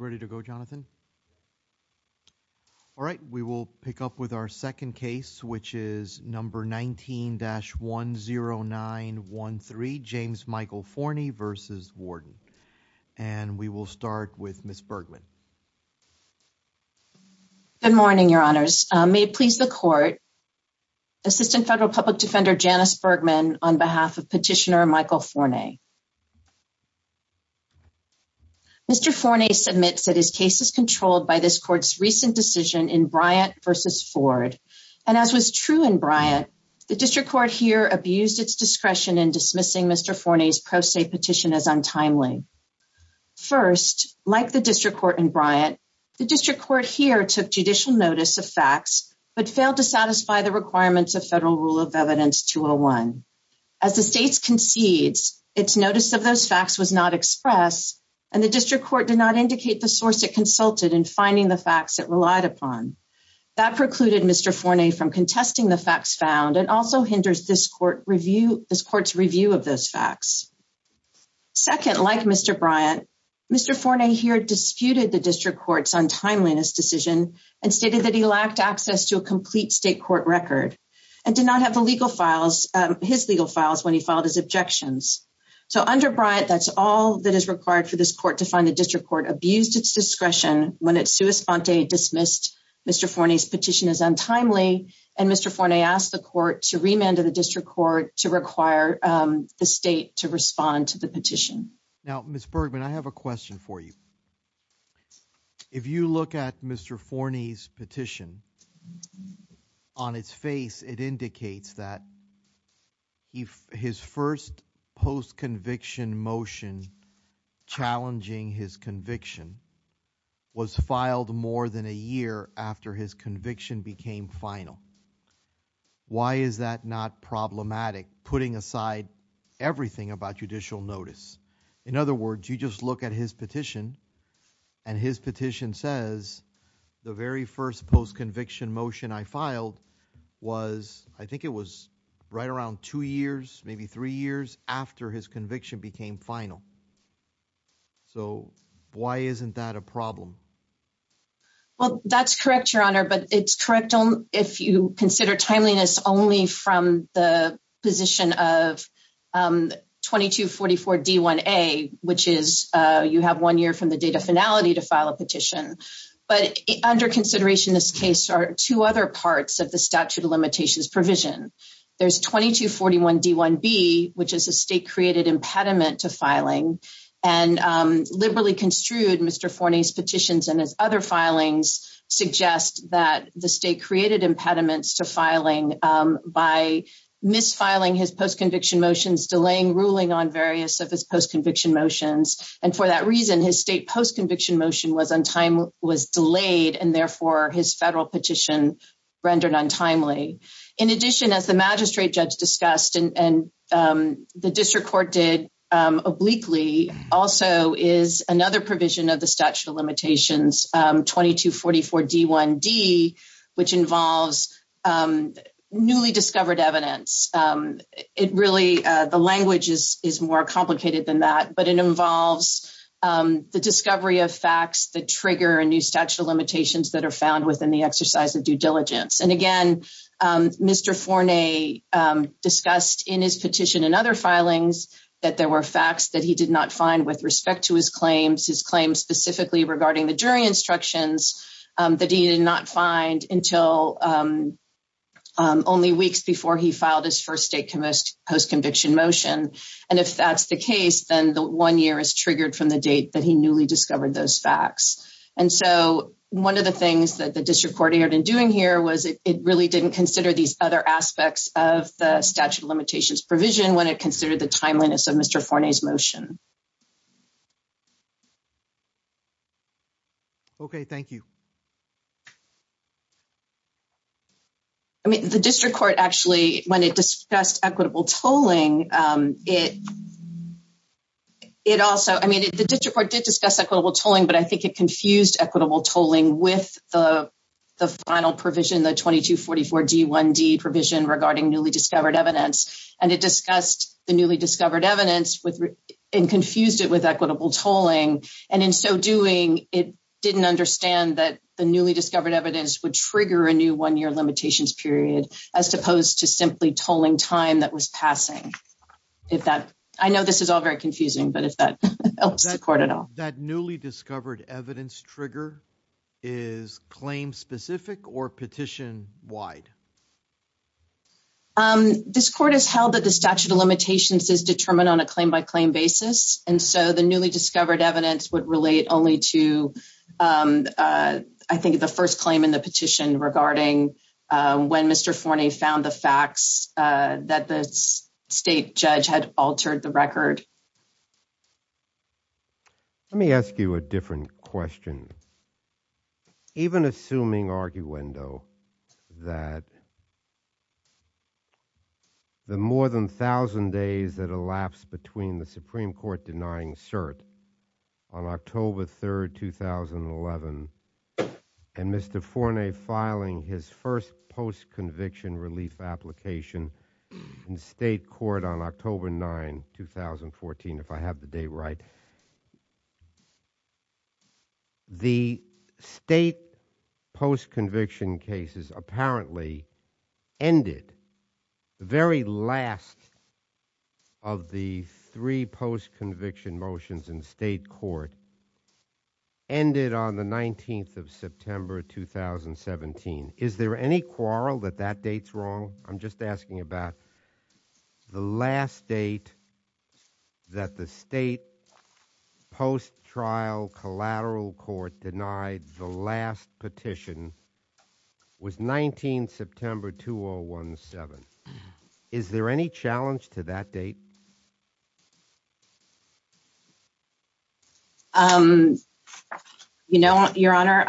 All right, we will pick up with our second case, which is number 19-10913, James Michael Forney v. Warden. And we will start with Ms. Bergman. Good morning, Your Honors. May it please the Court, Assistant Federal Public Defender Janice Bergman on behalf of Petitioner Michael Forney. Mr. Forney submits that his case is controlled by this Court's recent decision in Bryant v. Ford. And as was true in Bryant, the District Court here abused its discretion in dismissing Mr. Forney's pro se petition as untimely. First, like the District Court in Bryant, the District Court here took judicial notice of facts, but failed to satisfy the requirements of Federal Rule of Evidence 201. As the States concedes, its notice of those facts was not expressed, and the District Court did not indicate the source it consulted in finding the facts it relied upon. That precluded Mr. Forney from contesting the facts found and also hinders this Court's review of those facts. Second, like Mr. Bryant, Mr. Forney here disputed the District Court's untimeliness decision and stated that he lacked access to a complete state court record and did not have his legal files when he filed his objections. So under Bryant, that's all that is required for this Court to find the District Court abused its discretion when it sua sponte dismissed Mr. Forney's petition as untimely, and Mr. Forney asked the Court to remand to the District Court to require the State to respond to the petition. Now, Ms. Bergman, I have a question for you. If you look at Mr. Forney's petition, on its face it indicates that his first post-conviction motion challenging his conviction was filed more than a year after his conviction became final. Why is that not problematic, putting aside everything about judicial notice? In other words, you just look at his petition and his petition says, the very first post-conviction motion I filed was, I think it was right around two years, maybe three years after his conviction became final. So why isn't that a problem? Well, that's correct, Your Honor, but it's correct only if you consider timeliness only from the position of 2244 D1A, which is, you have one year from the date of finality to file a petition. But under consideration in this case are two other parts of the statute of limitations provision. There's 2241 D1B, which is a state-created impediment to filing, and liberally construed, Mr. Forney's petitions and his other filings suggest that the state-created impediments to filing by misfiling his post-conviction motions, delaying ruling on various of his post-conviction motions. And for that reason, his state post-conviction motion was delayed and therefore his federal petition rendered untimely. In addition, as the magistrate judge discussed and the district court did obliquely, also is another provision of the statute of newly discovered evidence. It really, the language is more complicated than that, but it involves the discovery of facts that trigger a new statute of limitations that are found within the exercise of due diligence. And again, Mr. Forney discussed in his petition and other filings that there were facts that he did not find with respect to his claims, his claims specifically regarding the only weeks before he filed his first state post-conviction motion. And if that's the case, then the one year is triggered from the date that he newly discovered those facts. And so one of the things that the district court ended up doing here was it really didn't consider these other aspects of the statute of limitations provision when it considered the timeliness of Mr. Forney's motion. Okay. Thank you. I mean, the district court actually, when it discussed equitable tolling, it also, I mean, the district court did discuss equitable tolling, but I think it confused equitable tolling with the final provision, the 2244 D1D provision regarding newly discovered evidence. And it confused it with equitable tolling. And in so doing, it didn't understand that the newly discovered evidence would trigger a new one-year limitations period, as opposed to simply tolling time that was passing. I know this is all very confusing, but if that helps the court at all. That newly discovered evidence trigger is claim specific or petition wide? This court has held that the statute of limitations is determined on a claim by claim basis. And so the newly discovered evidence would relate only to, I think the first claim in the petition regarding when Mr. Forney found the facts that the state judge had altered the record. Let me ask you a different question. Even assuming arguendo that the more than thousand days that elapsed between the Supreme Court denying cert on October 3rd, 2011, and Mr. Forney filing his first post-conviction relief application in state court on October 9, 2014, if I have the date, right. The state post-conviction cases apparently ended the very last of the three post-conviction motions in state court ended on the 19th of September, 2017. Is there any quarrel that that date's wrong? I'm just asking about the last date that the state post-trial collateral court denied the last petition was 19 September, 2017. Is there any challenge to that date? You know, your honor,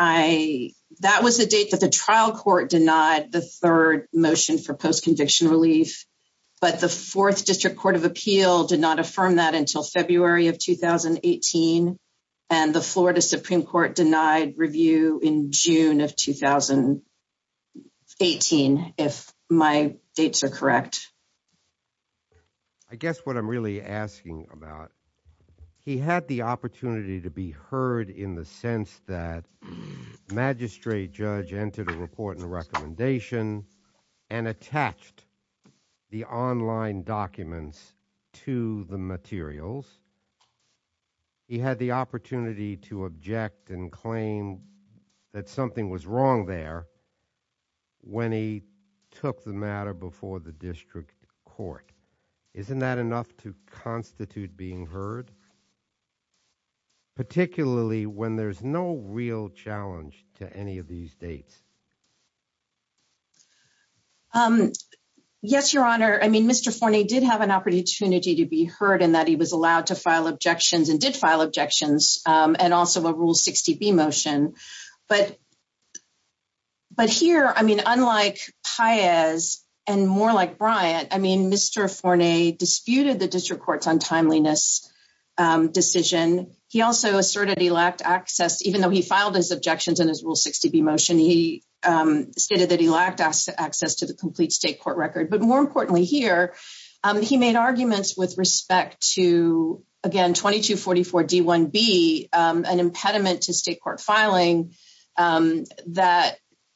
that was the date that the trial court denied the third motion for post-conviction relief, but the fourth district court of appeal did not affirm that until February of 2018 and the Florida Supreme Court denied review in June of 2018, if my dates are correct. I guess what I'm really asking about, he had the opportunity to be heard in the sense that magistrate judge entered a report and recommendation and attached the online documents to the materials. He had the opportunity to object and claim that something was wrong there when he took the matter before the district court. Isn't that enough to constitute being heard, particularly when there's no real challenge to any of these dates? Yes, your honor. I mean, Mr. Forney did have an opportunity to be heard in that he was allowed to file objections and did file objections and also a Rule 60B motion. But here, I mean, unlike Paez and more like Bryant, I mean, Mr. Forney disputed the district court's untimeliness decision. He also asserted he lacked access, even though he filed his objections in his Rule 60B motion, he stated that he lacked access to the complete state court record. But more importantly here, he made arguments with respect to, again, 2244 D1B, an impediment to state court filing that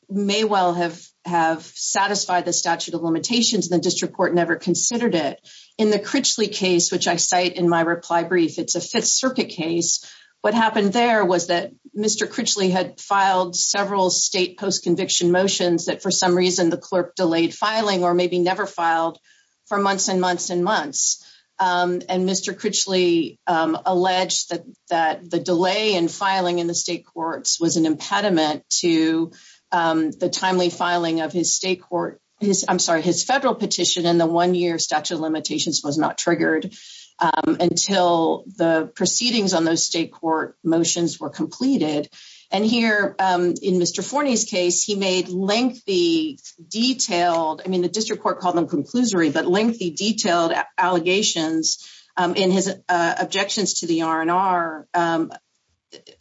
may well have satisfied the statute of limitations and the district court never considered it. In the Critchley case, which I cite in my reply brief, it's a Fifth Circuit case. What happened there was that Mr. Critchley had filed several state post-conviction motions that for some reason the clerk delayed filing or maybe never filed for months and months and months. And Mr. Critchley alleged that the delay in filing in the state courts was an impediment to the timely filing of his state court, I'm sorry, his federal petition in the one-year limitations was not triggered until the proceedings on those state court motions were completed. And here in Mr. Forney's case, he made lengthy, detailed, I mean, the district court called them conclusory, but lengthy, detailed allegations in his objections to the RNR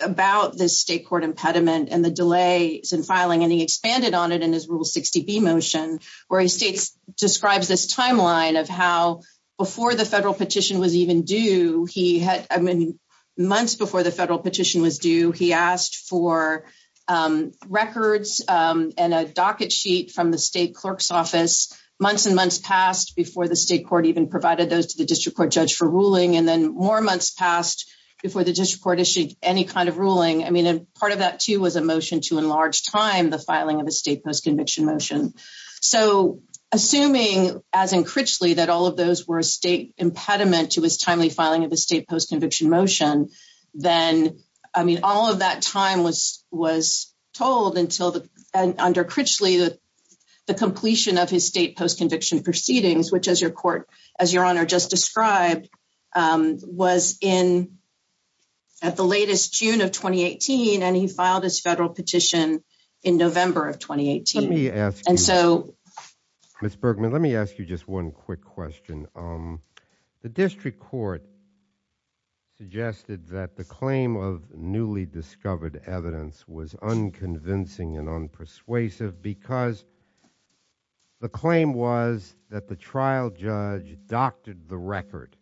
about this state court impediment and the delays in filing. And he expanded on it in his Rule 60B motion, where he states, describes this timeline of how before the federal petition was even due, he had, I mean, months before the federal petition was due, he asked for records and a docket sheet from the state clerk's office. Months and months passed before the state court even provided those to the district court judge for ruling. And then more months passed before the district court issued any kind of ruling. I mean, part of that too, was a motion to enlarge time, the filing of a state post-conviction motion. So assuming as in Critchley, that all of those were a state impediment to his timely filing of the state post-conviction motion, then, I mean, all of that time was told until under Critchley, the completion of his state post-conviction proceedings, which as your court, as your honor just described, was in at the latest June of 2018. And he filed his federal petition in November of 2018. Let me ask you, Ms. Bergman, let me ask you just one quick question. The district court suggested that the claim of newly discovered evidence was unconvincing and unpersuasive because the claim was that the trial judge doctored the record.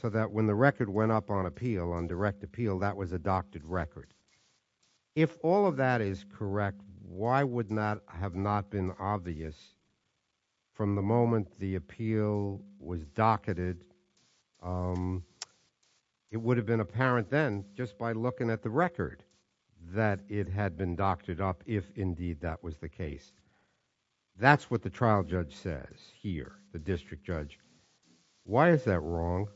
So that when the record went up on appeal, on direct appeal, that was a doctored record. If all of that is correct, why would not have not been obvious from the moment the appeal was docketed? It would have been apparent then just by looking at the record that it had been doctored up if indeed that was the case. That's what the trial judge says here, the district judge. Why is that wrong?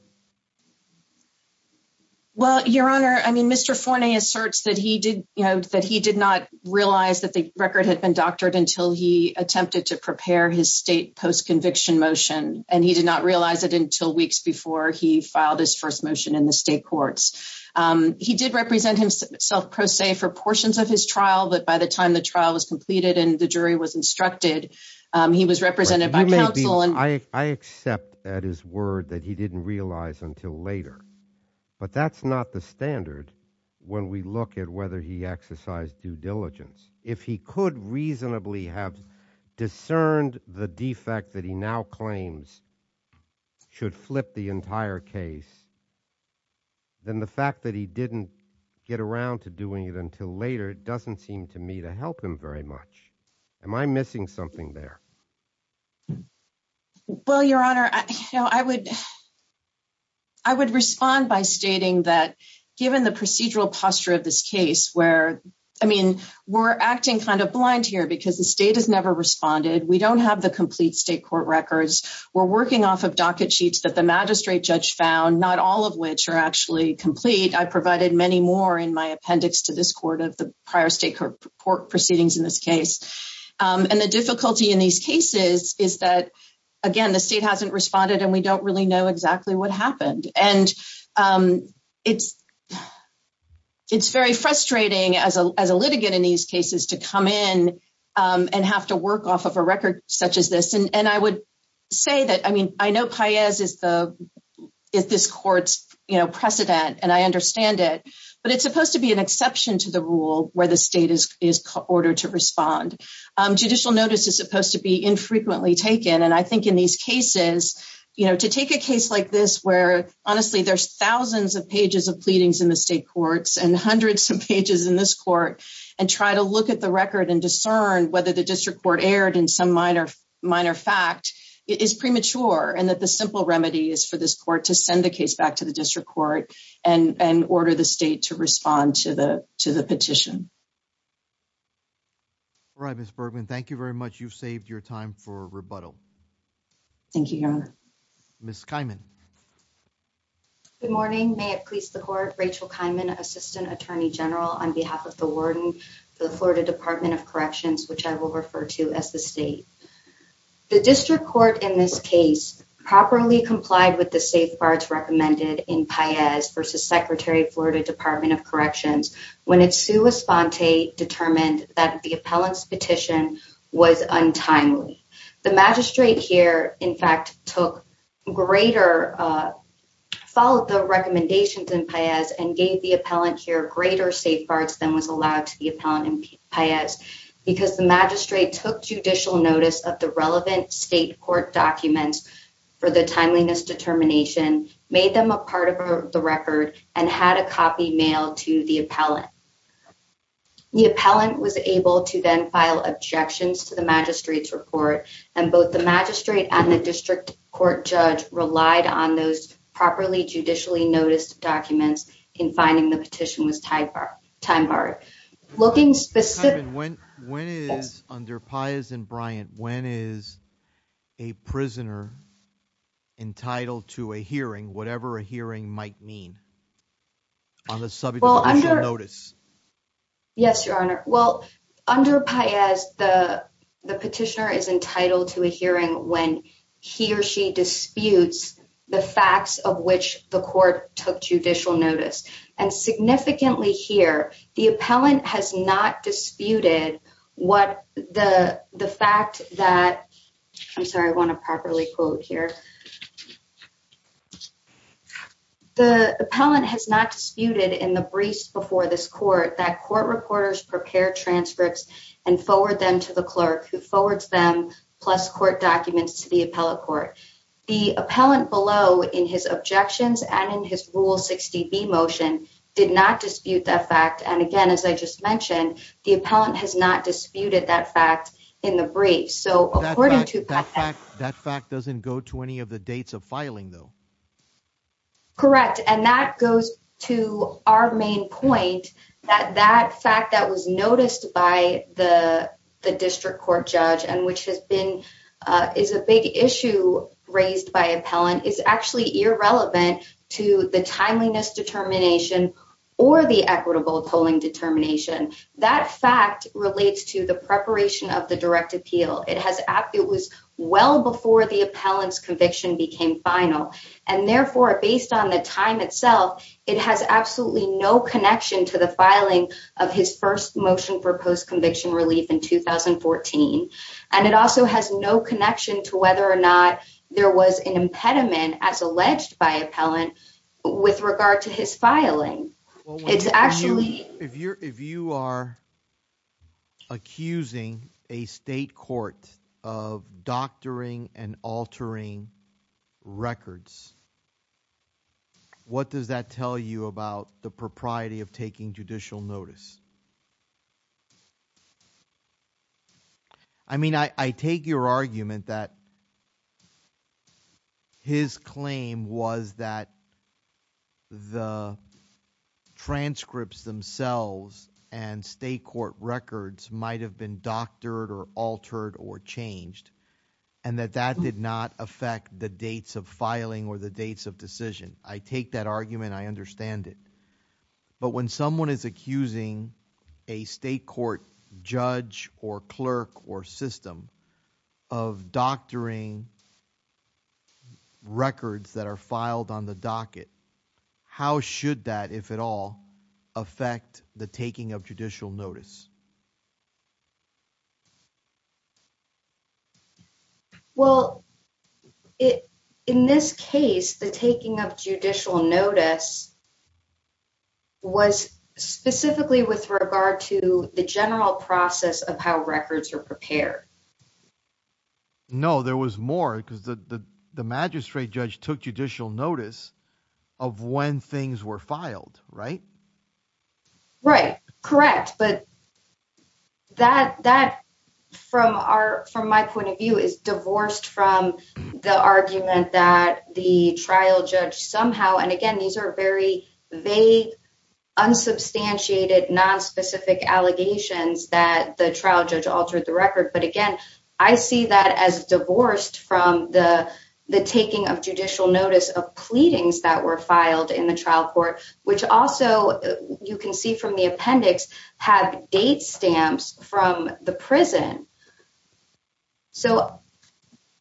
Well, your honor, I mean, Mr. Forney asserts that he did, you know, that he did not realize that the record had been doctored until he attempted to prepare his state post-conviction motion. And he did not realize it until weeks before he filed his first motion in the state courts. He did represent himself pro se for portions of his trial, but by the time the at his word that he didn't realize until later. But that's not the standard when we look at whether he exercised due diligence. If he could reasonably have discerned the defect that he now claims should flip the entire case, then the fact that he didn't get around to doing it until later doesn't seem to me to help him very much. Am I missing something there? Well, your honor, you know, I would, I would respond by stating that given the procedural posture of this case, where, I mean, we're acting kind of blind here because the state has never responded. We don't have the complete state court records. We're working off of docket sheets that the magistrate judge found, not all of which are actually complete. I provided many more in my appendix to this court of the prior state court proceedings in this case. And the case is, is that again, the state hasn't responded and we don't really know exactly what happened. And it's, it's very frustrating as a, as a litigant in these cases to come in and have to work off of a record such as this. And I would say that, I mean, I know Paez is the, is this court's precedent and I understand it, but it's supposed to be an exception to the rule where the state is, is ordered to respond. Judicial notice is supposed to be infrequently taken. And I think in these cases, you know, to take a case like this, where honestly there's thousands of pages of pleadings in the state courts and hundreds of pages in this court and try to look at the record and discern whether the district court erred in some minor, minor fact is premature. And that the simple remedy is for this court to send the case back to the district court and, and order the state to respond to the, to the petition. All right, Ms. Bergman, thank you very much. You've saved your time for rebuttal. Thank you, Your Honor. Ms. Kiman. Good morning. May it please the court, Rachel Kiman, assistant attorney general on behalf of the warden for the Florida Department of Corrections, which I will refer to as the state. The district court in this case properly complied with the safeguards recommended in Paez versus Secretary of Florida Department of Corrections when it's Sue Esponte determined that the appellant's petition was untimely. The magistrate here, in fact, took greater, followed the recommendations in Paez and gave the appellant here greater safeguards than was allowed to the appellant in Paez because the magistrate took judicial notice of the relevant state court documents for the timeliness determination, made them a part of the record, and had a copy mailed to the appellant. The appellant was able to then file objections to the magistrate's report, and both the magistrate and the district court judge relied on those properly judicially noticed documents in finding the petition was time barred. Looking specifically, when is, under Paez and Bryant, when is a prisoner entitled to a hearing, whatever a hearing might mean, on the subject of judicial notice? Yes, your honor. Well, under Paez, the petitioner is entitled to a hearing when he or she disputes the facts of which the court took judicial notice. And significantly here, the appellant has not disputed what the fact that, I'm sorry, I want to properly quote here, the appellant has not disputed in the briefs before this court that court reporters prepare transcripts and forward them to the clerk who forwards them plus court documents to the and in his rule 60b motion did not dispute that fact. And again, as I just mentioned, the appellant has not disputed that fact in the brief. So according to that fact, that fact doesn't go to any of the dates of filing though. Correct. And that goes to our main point that that fact that was noticed by the district court judge and which has been, is a big issue raised by appellant is actually irrelevant to the timeliness determination or the equitable tolling determination. That fact relates to the preparation of the direct appeal. It has, it was well before the appellant's conviction became final and therefore based on the time itself, it has absolutely no connection to the filing of his first motion for post-conviction relief in 2014. And it also has no connection to whether or not there was an impediment as alleged by appellant with regard to his filing. It's actually, if you're, if you are accusing a state court of doctoring and altering records, what does that tell you about the propriety of taking judicial notice? I mean, I, I take your argument that his claim was that the transcripts themselves and state court records might've been doctored or altered or changed and that that did not affect the dates of filing or the dates of decision. I take that argument. I understand it. But when someone is accusing a state court judge or clerk or system of doctoring records that are filed on the docket, how should that, if at all affect the taking of judicial notice? Well, it, in this case, the taking of judicial notice was specifically with regard to the general process of how records are prepared. No, there was more because the, the, the magistrate judge took judicial notice of when things were filed, right? Right. Correct. But that, that from our, from my point of view is divorced from the argument that the trial judge somehow, and again, these are very vague, unsubstantiated, non-specific allegations that the trial judge altered the that were filed in the trial court, which also you can see from the appendix have date stamps from the prison. So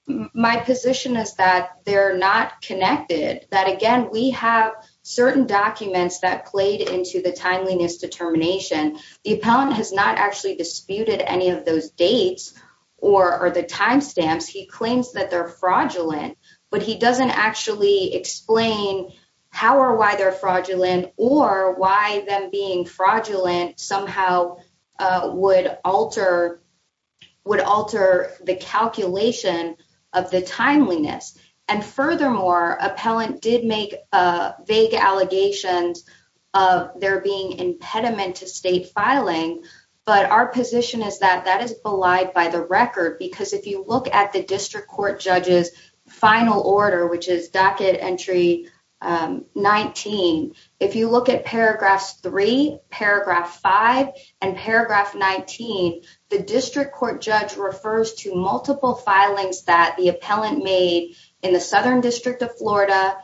my position is that they're not connected, that again, we have certain documents that played into the timeliness determination. The appellant has not actually disputed any of those dates or the timestamps. He claims that they're fraudulent, but he doesn't actually explain how or why they're fraudulent or why them being fraudulent somehow would alter, would alter the calculation of the timeliness. And furthermore, appellant did make a vague allegations of there being impediment to state filing. But our position is that that is belied by the record, because if you look at the district court judge's final order, which is docket entry 19, if you look at paragraphs three, paragraph five, and paragraph 19, the district court judge refers to multiple filings that the appellant made in the Southern District of Florida,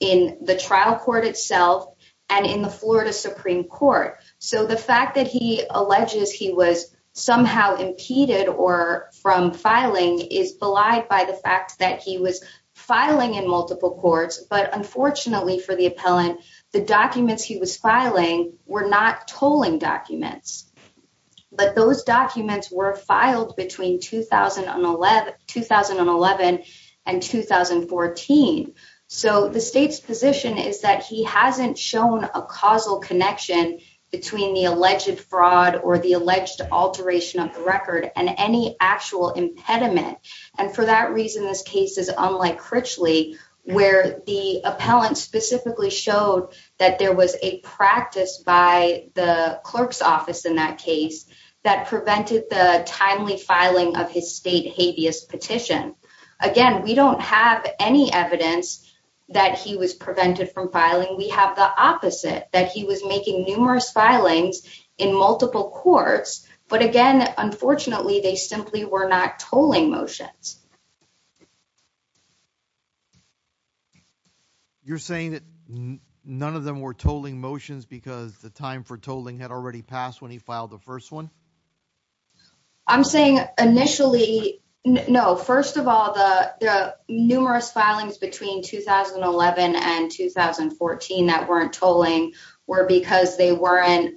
in the trial court itself, and in the Florida Supreme Court. So the fact that he alleges he was somehow impeded or from filing is belied by the fact that he was filing in multiple courts, but unfortunately for the appellant, the documents he was filing were not tolling documents. But those documents were filed between 2011 and 2014. So the state's position is that he hasn't shown a causal connection between the alleged fraud or the alleged alteration of the record and any actual impediment. And for that reason, this case is unlike Critchley, where the appellant specifically showed that there was a practice by the clerk's office in that case, that prevented the timely filing of his state habeas petition. Again, we don't have any evidence that he was opposite, that he was making numerous filings in multiple courts, but again, unfortunately, they simply were not tolling motions. You're saying that none of them were tolling motions because the time for tolling had already passed when he filed the first one? I'm saying initially, no. First of all, the numerous filings between 2011 and 2014 that weren't tolling were because they weren't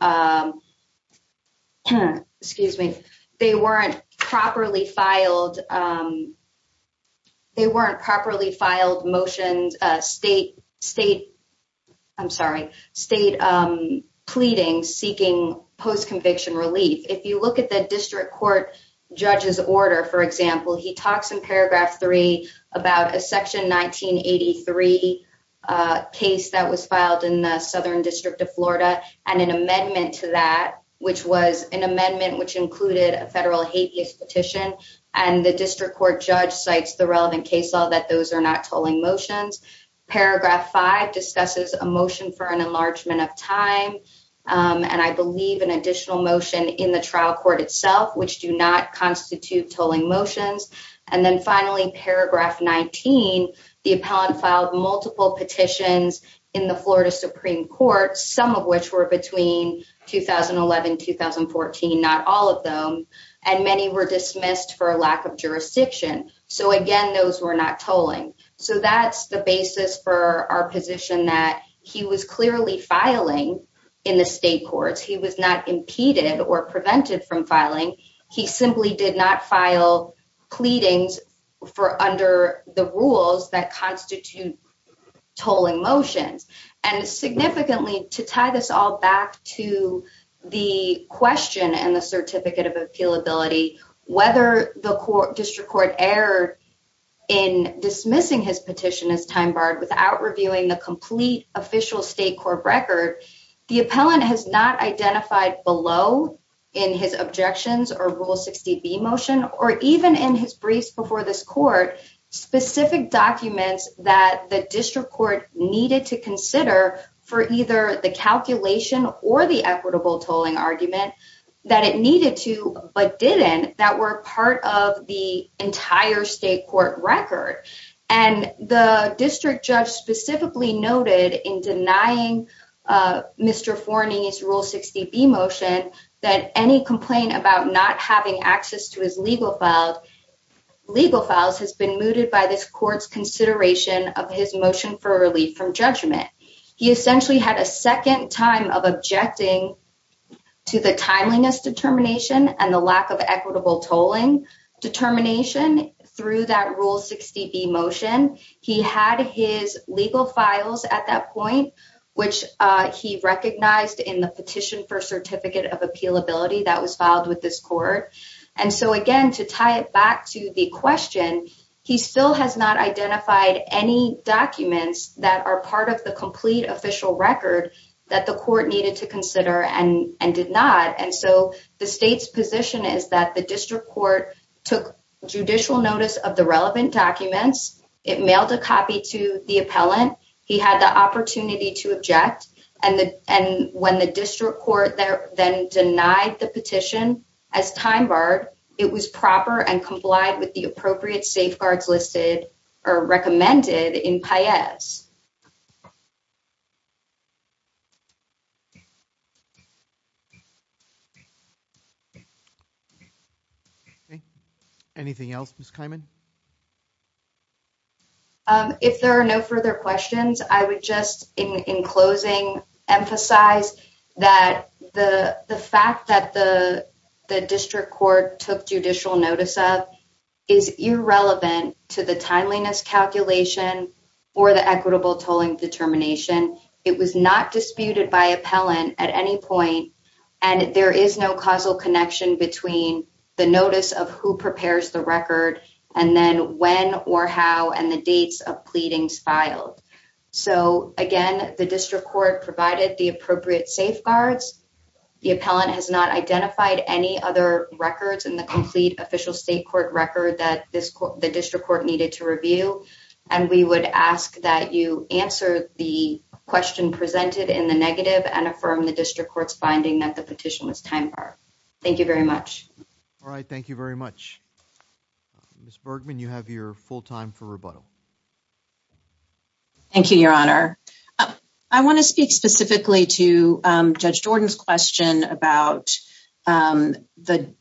properly filed motions, state pleading seeking post-conviction relief. If you look at the district court judge's order, for example, he talks in paragraph three about a section 1983 case that was filed in the Southern District of Florida, and an amendment to that, which was an amendment which included a federal habeas petition, and the district court judge cites the relevant case law that those are not tolling motions. Paragraph five discusses a time, and I believe an additional motion in the trial court itself, which do not constitute tolling motions. Finally, paragraph 19, the appellant filed multiple petitions in the Florida Supreme Court, some of which were between 2011 and 2014, not all of them, and many were dismissed for lack of jurisdiction. Again, those were not tolling. That's the basis for our position that he was clearly filing in the state courts. He was not impeded or prevented from filing. He simply did not file pleadings for under the rules that constitute tolling motions. Significantly, to tie this all back to the question and the certificate of appealability, whether the district court erred in dismissing his petition as time barred without reviewing the complete official state court record, the appellant has not identified below in his objections or Rule 60B motion, or even in his briefs before this court, specific documents that the district court needed to consider for either the calculation or the equitable tolling argument that it needed to, but didn't, that were part of the entire state court record. And the district judge specifically noted in denying Mr. Forney's Rule 60B motion that any complaint about not having access to his legal files has been mooted by this court's consideration of his motion for relief from judgment. He essentially had a second time of objecting to the timeliness determination and the lack of equitable tolling determination through that Rule 60B motion. He had his legal files at that point, which he recognized in the petition for certificate of appealability that was filed with this court. And so again, to tie it back to the question, he still has not identified any documents that are part of the complete official record that the court needed to consider and did not. And so the state's position is that the district court took judicial notice of the relevant documents. It mailed a copy to the appellant. He had the opportunity to object. And when the district court then denied the petition as time barred, it was proper and complied with the appropriate Okay. Anything else, Ms. Kimon? If there are no further questions, I would just, in closing, emphasize that the fact that the district court took judicial notice of is irrelevant to the timeliness calculation or the equitable tolling determination. It was not disputed by appellant at any point, and there is no causal connection between the notice of who prepares the record and then when or how and the dates of pleadings filed. So again, the district court provided the appropriate safeguards. The appellant has not identified any other records in the complete official state court record that the district court needed to review. And we would ask that you answer the question presented in the negative and affirm the district court's finding that the petition was time barred. Thank you very much. All right. Thank you very much. Ms. Bergman, you have your full time for rebuttal. Thank you, Your Honor. I want to speak specifically to Judge Jordan's question about the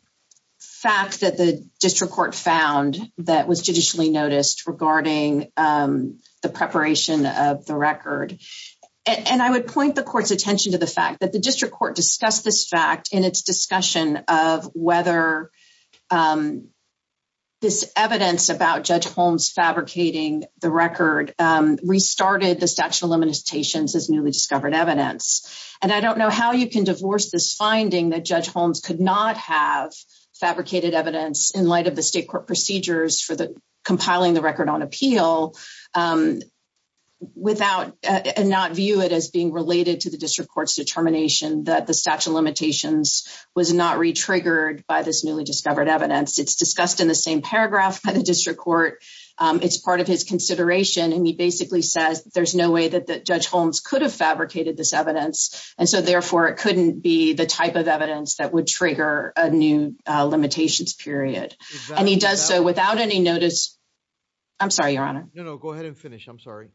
fact that the district court found that was judicially noticed regarding the preparation of the record. And I would point the court's attention to the fact that the district court discussed this fact in its discussion of whether this evidence about Judge Holmes fabricating the record restarted the statute of limitations as newly discovered evidence. And I don't know how you can divorce this finding that Judge Holmes could not have fabricated this evidence without and not view it as being related to the district court's determination that the statute of limitations was not re-triggered by this newly discovered evidence. It's discussed in the same paragraph by the district court. It's part of his consideration. And he basically says there's no way that Judge Holmes could have fabricated this evidence. And so therefore, it couldn't be the type of evidence that would trigger a new limitations period. And he does so without any notice. I'm sorry, Your Honor. No, no, go ahead and finish. I'm sorry.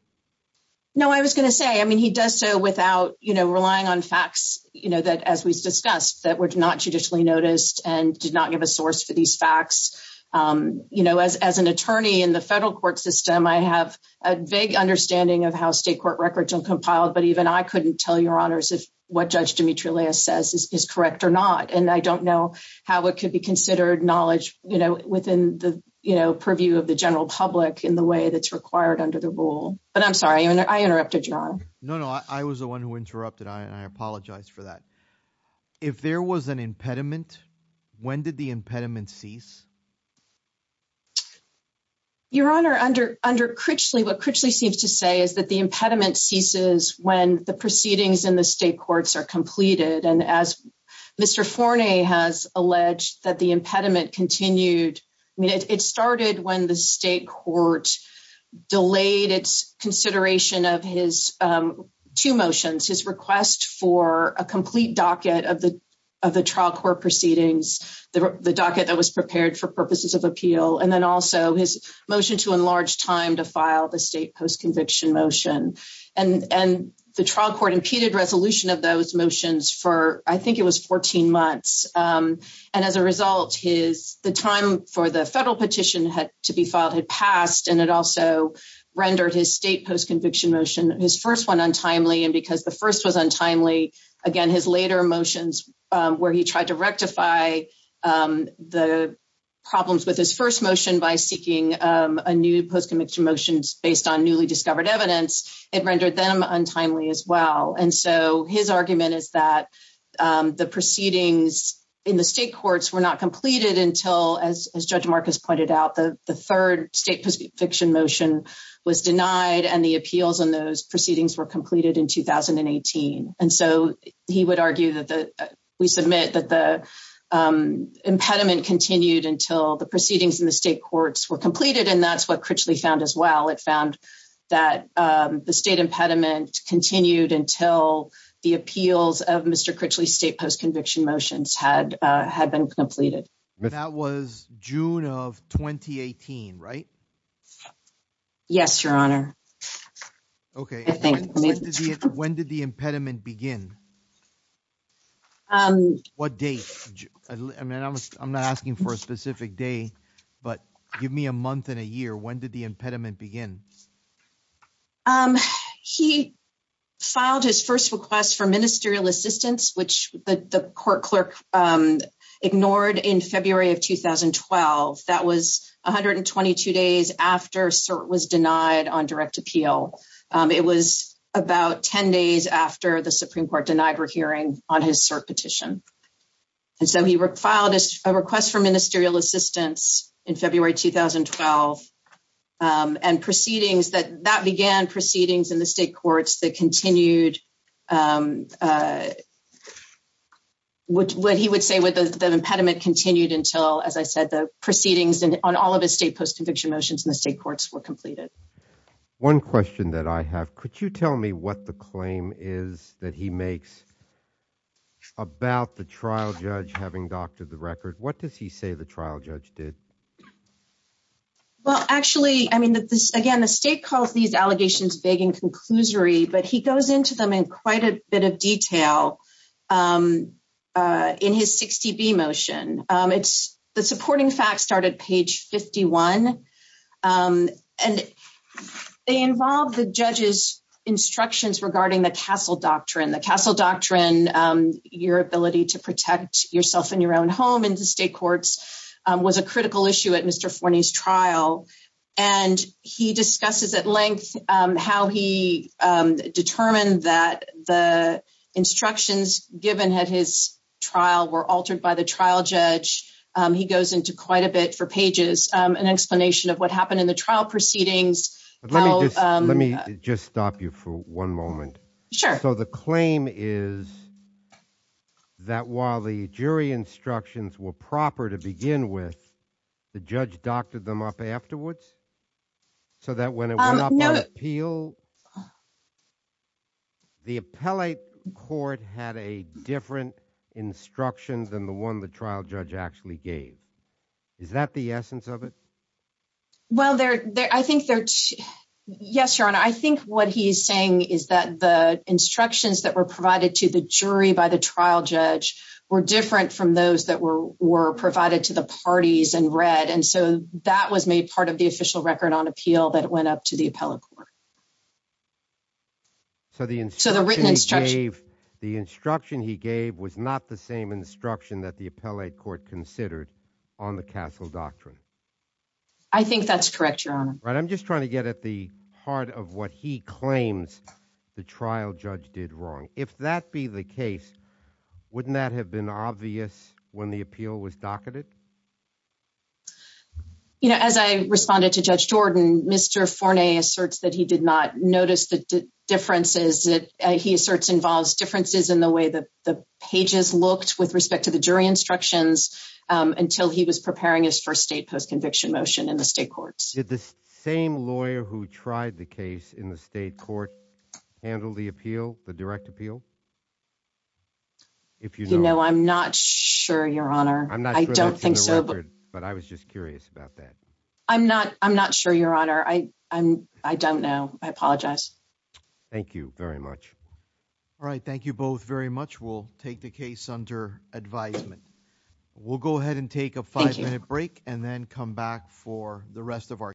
No, I was going to say, I mean, he does so without, you know, relying on facts, you know, that as we discussed, that were not judicially noticed and did not give a source for these facts. You know, as an attorney in the federal court system, I have a vague understanding of how state court records are compiled. But even I couldn't tell Your Honors if what Judge is correct or not. And I don't know how it could be considered knowledge, you know, within the, you know, purview of the general public in the way that's required under the rule. But I'm sorry, I interrupted, Your Honor. No, no, I was the one who interrupted. I apologize for that. If there was an impediment, when did the impediment cease? Your Honor, under Critchley, what Critchley seems to say is that the impediment ceases when the proceedings in the state courts are completed. And as Mr. Forney has alleged that the impediment continued, I mean, it started when the state court delayed its consideration of his two motions, his request for a complete docket of the trial court proceedings, the docket that was prepared for purposes of appeal, and then also his motion to enlarge time to file the state post-conviction motion. And the trial court impeded resolution of those motions for, I think it was 14 months. And as a result, the time for the federal petition to be filed had passed, and it also rendered his state post-conviction motion, his first one, untimely. And because the first was untimely, again, his later motions where he tried to rectify the problems with his first motion by seeking a new post-conviction motion based on newly discovered evidence, it rendered them untimely as well. And so his argument is that the proceedings in the state courts were not completed until, as Judge Marcus pointed out, the third state post-conviction motion was denied and the appeals on those proceedings were completed in 2018. And so he would argue that we submit that the impediment continued until the proceedings in the state courts were completed, and that's what Critchley found as well. It found that the state impediment continued until the appeals of Mr. Critchley's state post-conviction motions had been completed. That was June of 2018, right? Yes, Your Honor. Okay. When did the impediment begin? What date? I mean, I'm not asking for a specific day, but give me a month and a year. When did the impediment begin? He filed his first request for ministerial assistance, which the court clerk ignored in February of 2012. That was 122 days after cert was denied on direct appeal. It was about 10 days after the Supreme Court denied her hearing on his cert petition. And so he filed a request for ministerial assistance in February 2012, and that began proceedings in the state courts that continued what he would say with the impediment continued until, as I said, the proceedings on all of his state post-conviction motions in the state courts were completed. One question that I have. Could you tell me what the claim is that he makes about the trial judge having doctored the record? What does he say the trial judge did? Well, actually, I mean, again, the state calls these allegations vague and conclusory, but he goes into them in quite a bit of detail in his 60B motion. The supporting facts start at page 51, and they involve the judge's instructions regarding the Castle Doctrine. The Castle Doctrine, your ability to protect yourself in your own home in the state was a critical issue at Mr. Forney's trial, and he discusses at length how he determined that the instructions given at his trial were altered by the trial judge. He goes into quite a bit for pages, an explanation of what happened in the trial proceedings. Let me just stop you for one moment. Sure. So the claim is that while the jury instructions were proper to begin with, the judge doctored them up afterwards so that when it went up on appeal, the appellate court had a different instruction than the one the trial judge actually gave. Is that the essence of it? Well, I think they're, yes, your honor. I think what he's saying is that the instructions that were provided to the jury by the trial judge were different from those that were provided to the parties in red, and so that was made part of the official record on appeal that went up to the appellate court. So the written instruction he gave was not the same instruction that the appellate court considered on the Castle Doctrine. I think that's correct, right? I'm just trying to get at the heart of what he claims the trial judge did wrong. If that be the case, wouldn't that have been obvious when the appeal was docketed? You know, as I responded to Judge Jordan, Mr. Forney asserts that he did not notice the differences that he asserts involves differences in the way that the pages looked with respect to the jury instructions until he was preparing his first state post-conviction motion in the state courts. Did the same lawyer who tried the case in the state court handle the appeal, the direct appeal? You know, I'm not sure, your honor. I'm not sure that's in the record, but I was just curious about that. I'm not sure, your honor. I don't know. I apologize. Thank you very much. All right. Thank you both very much. We'll take the case under advisement. We'll go ahead and come back for the rest of our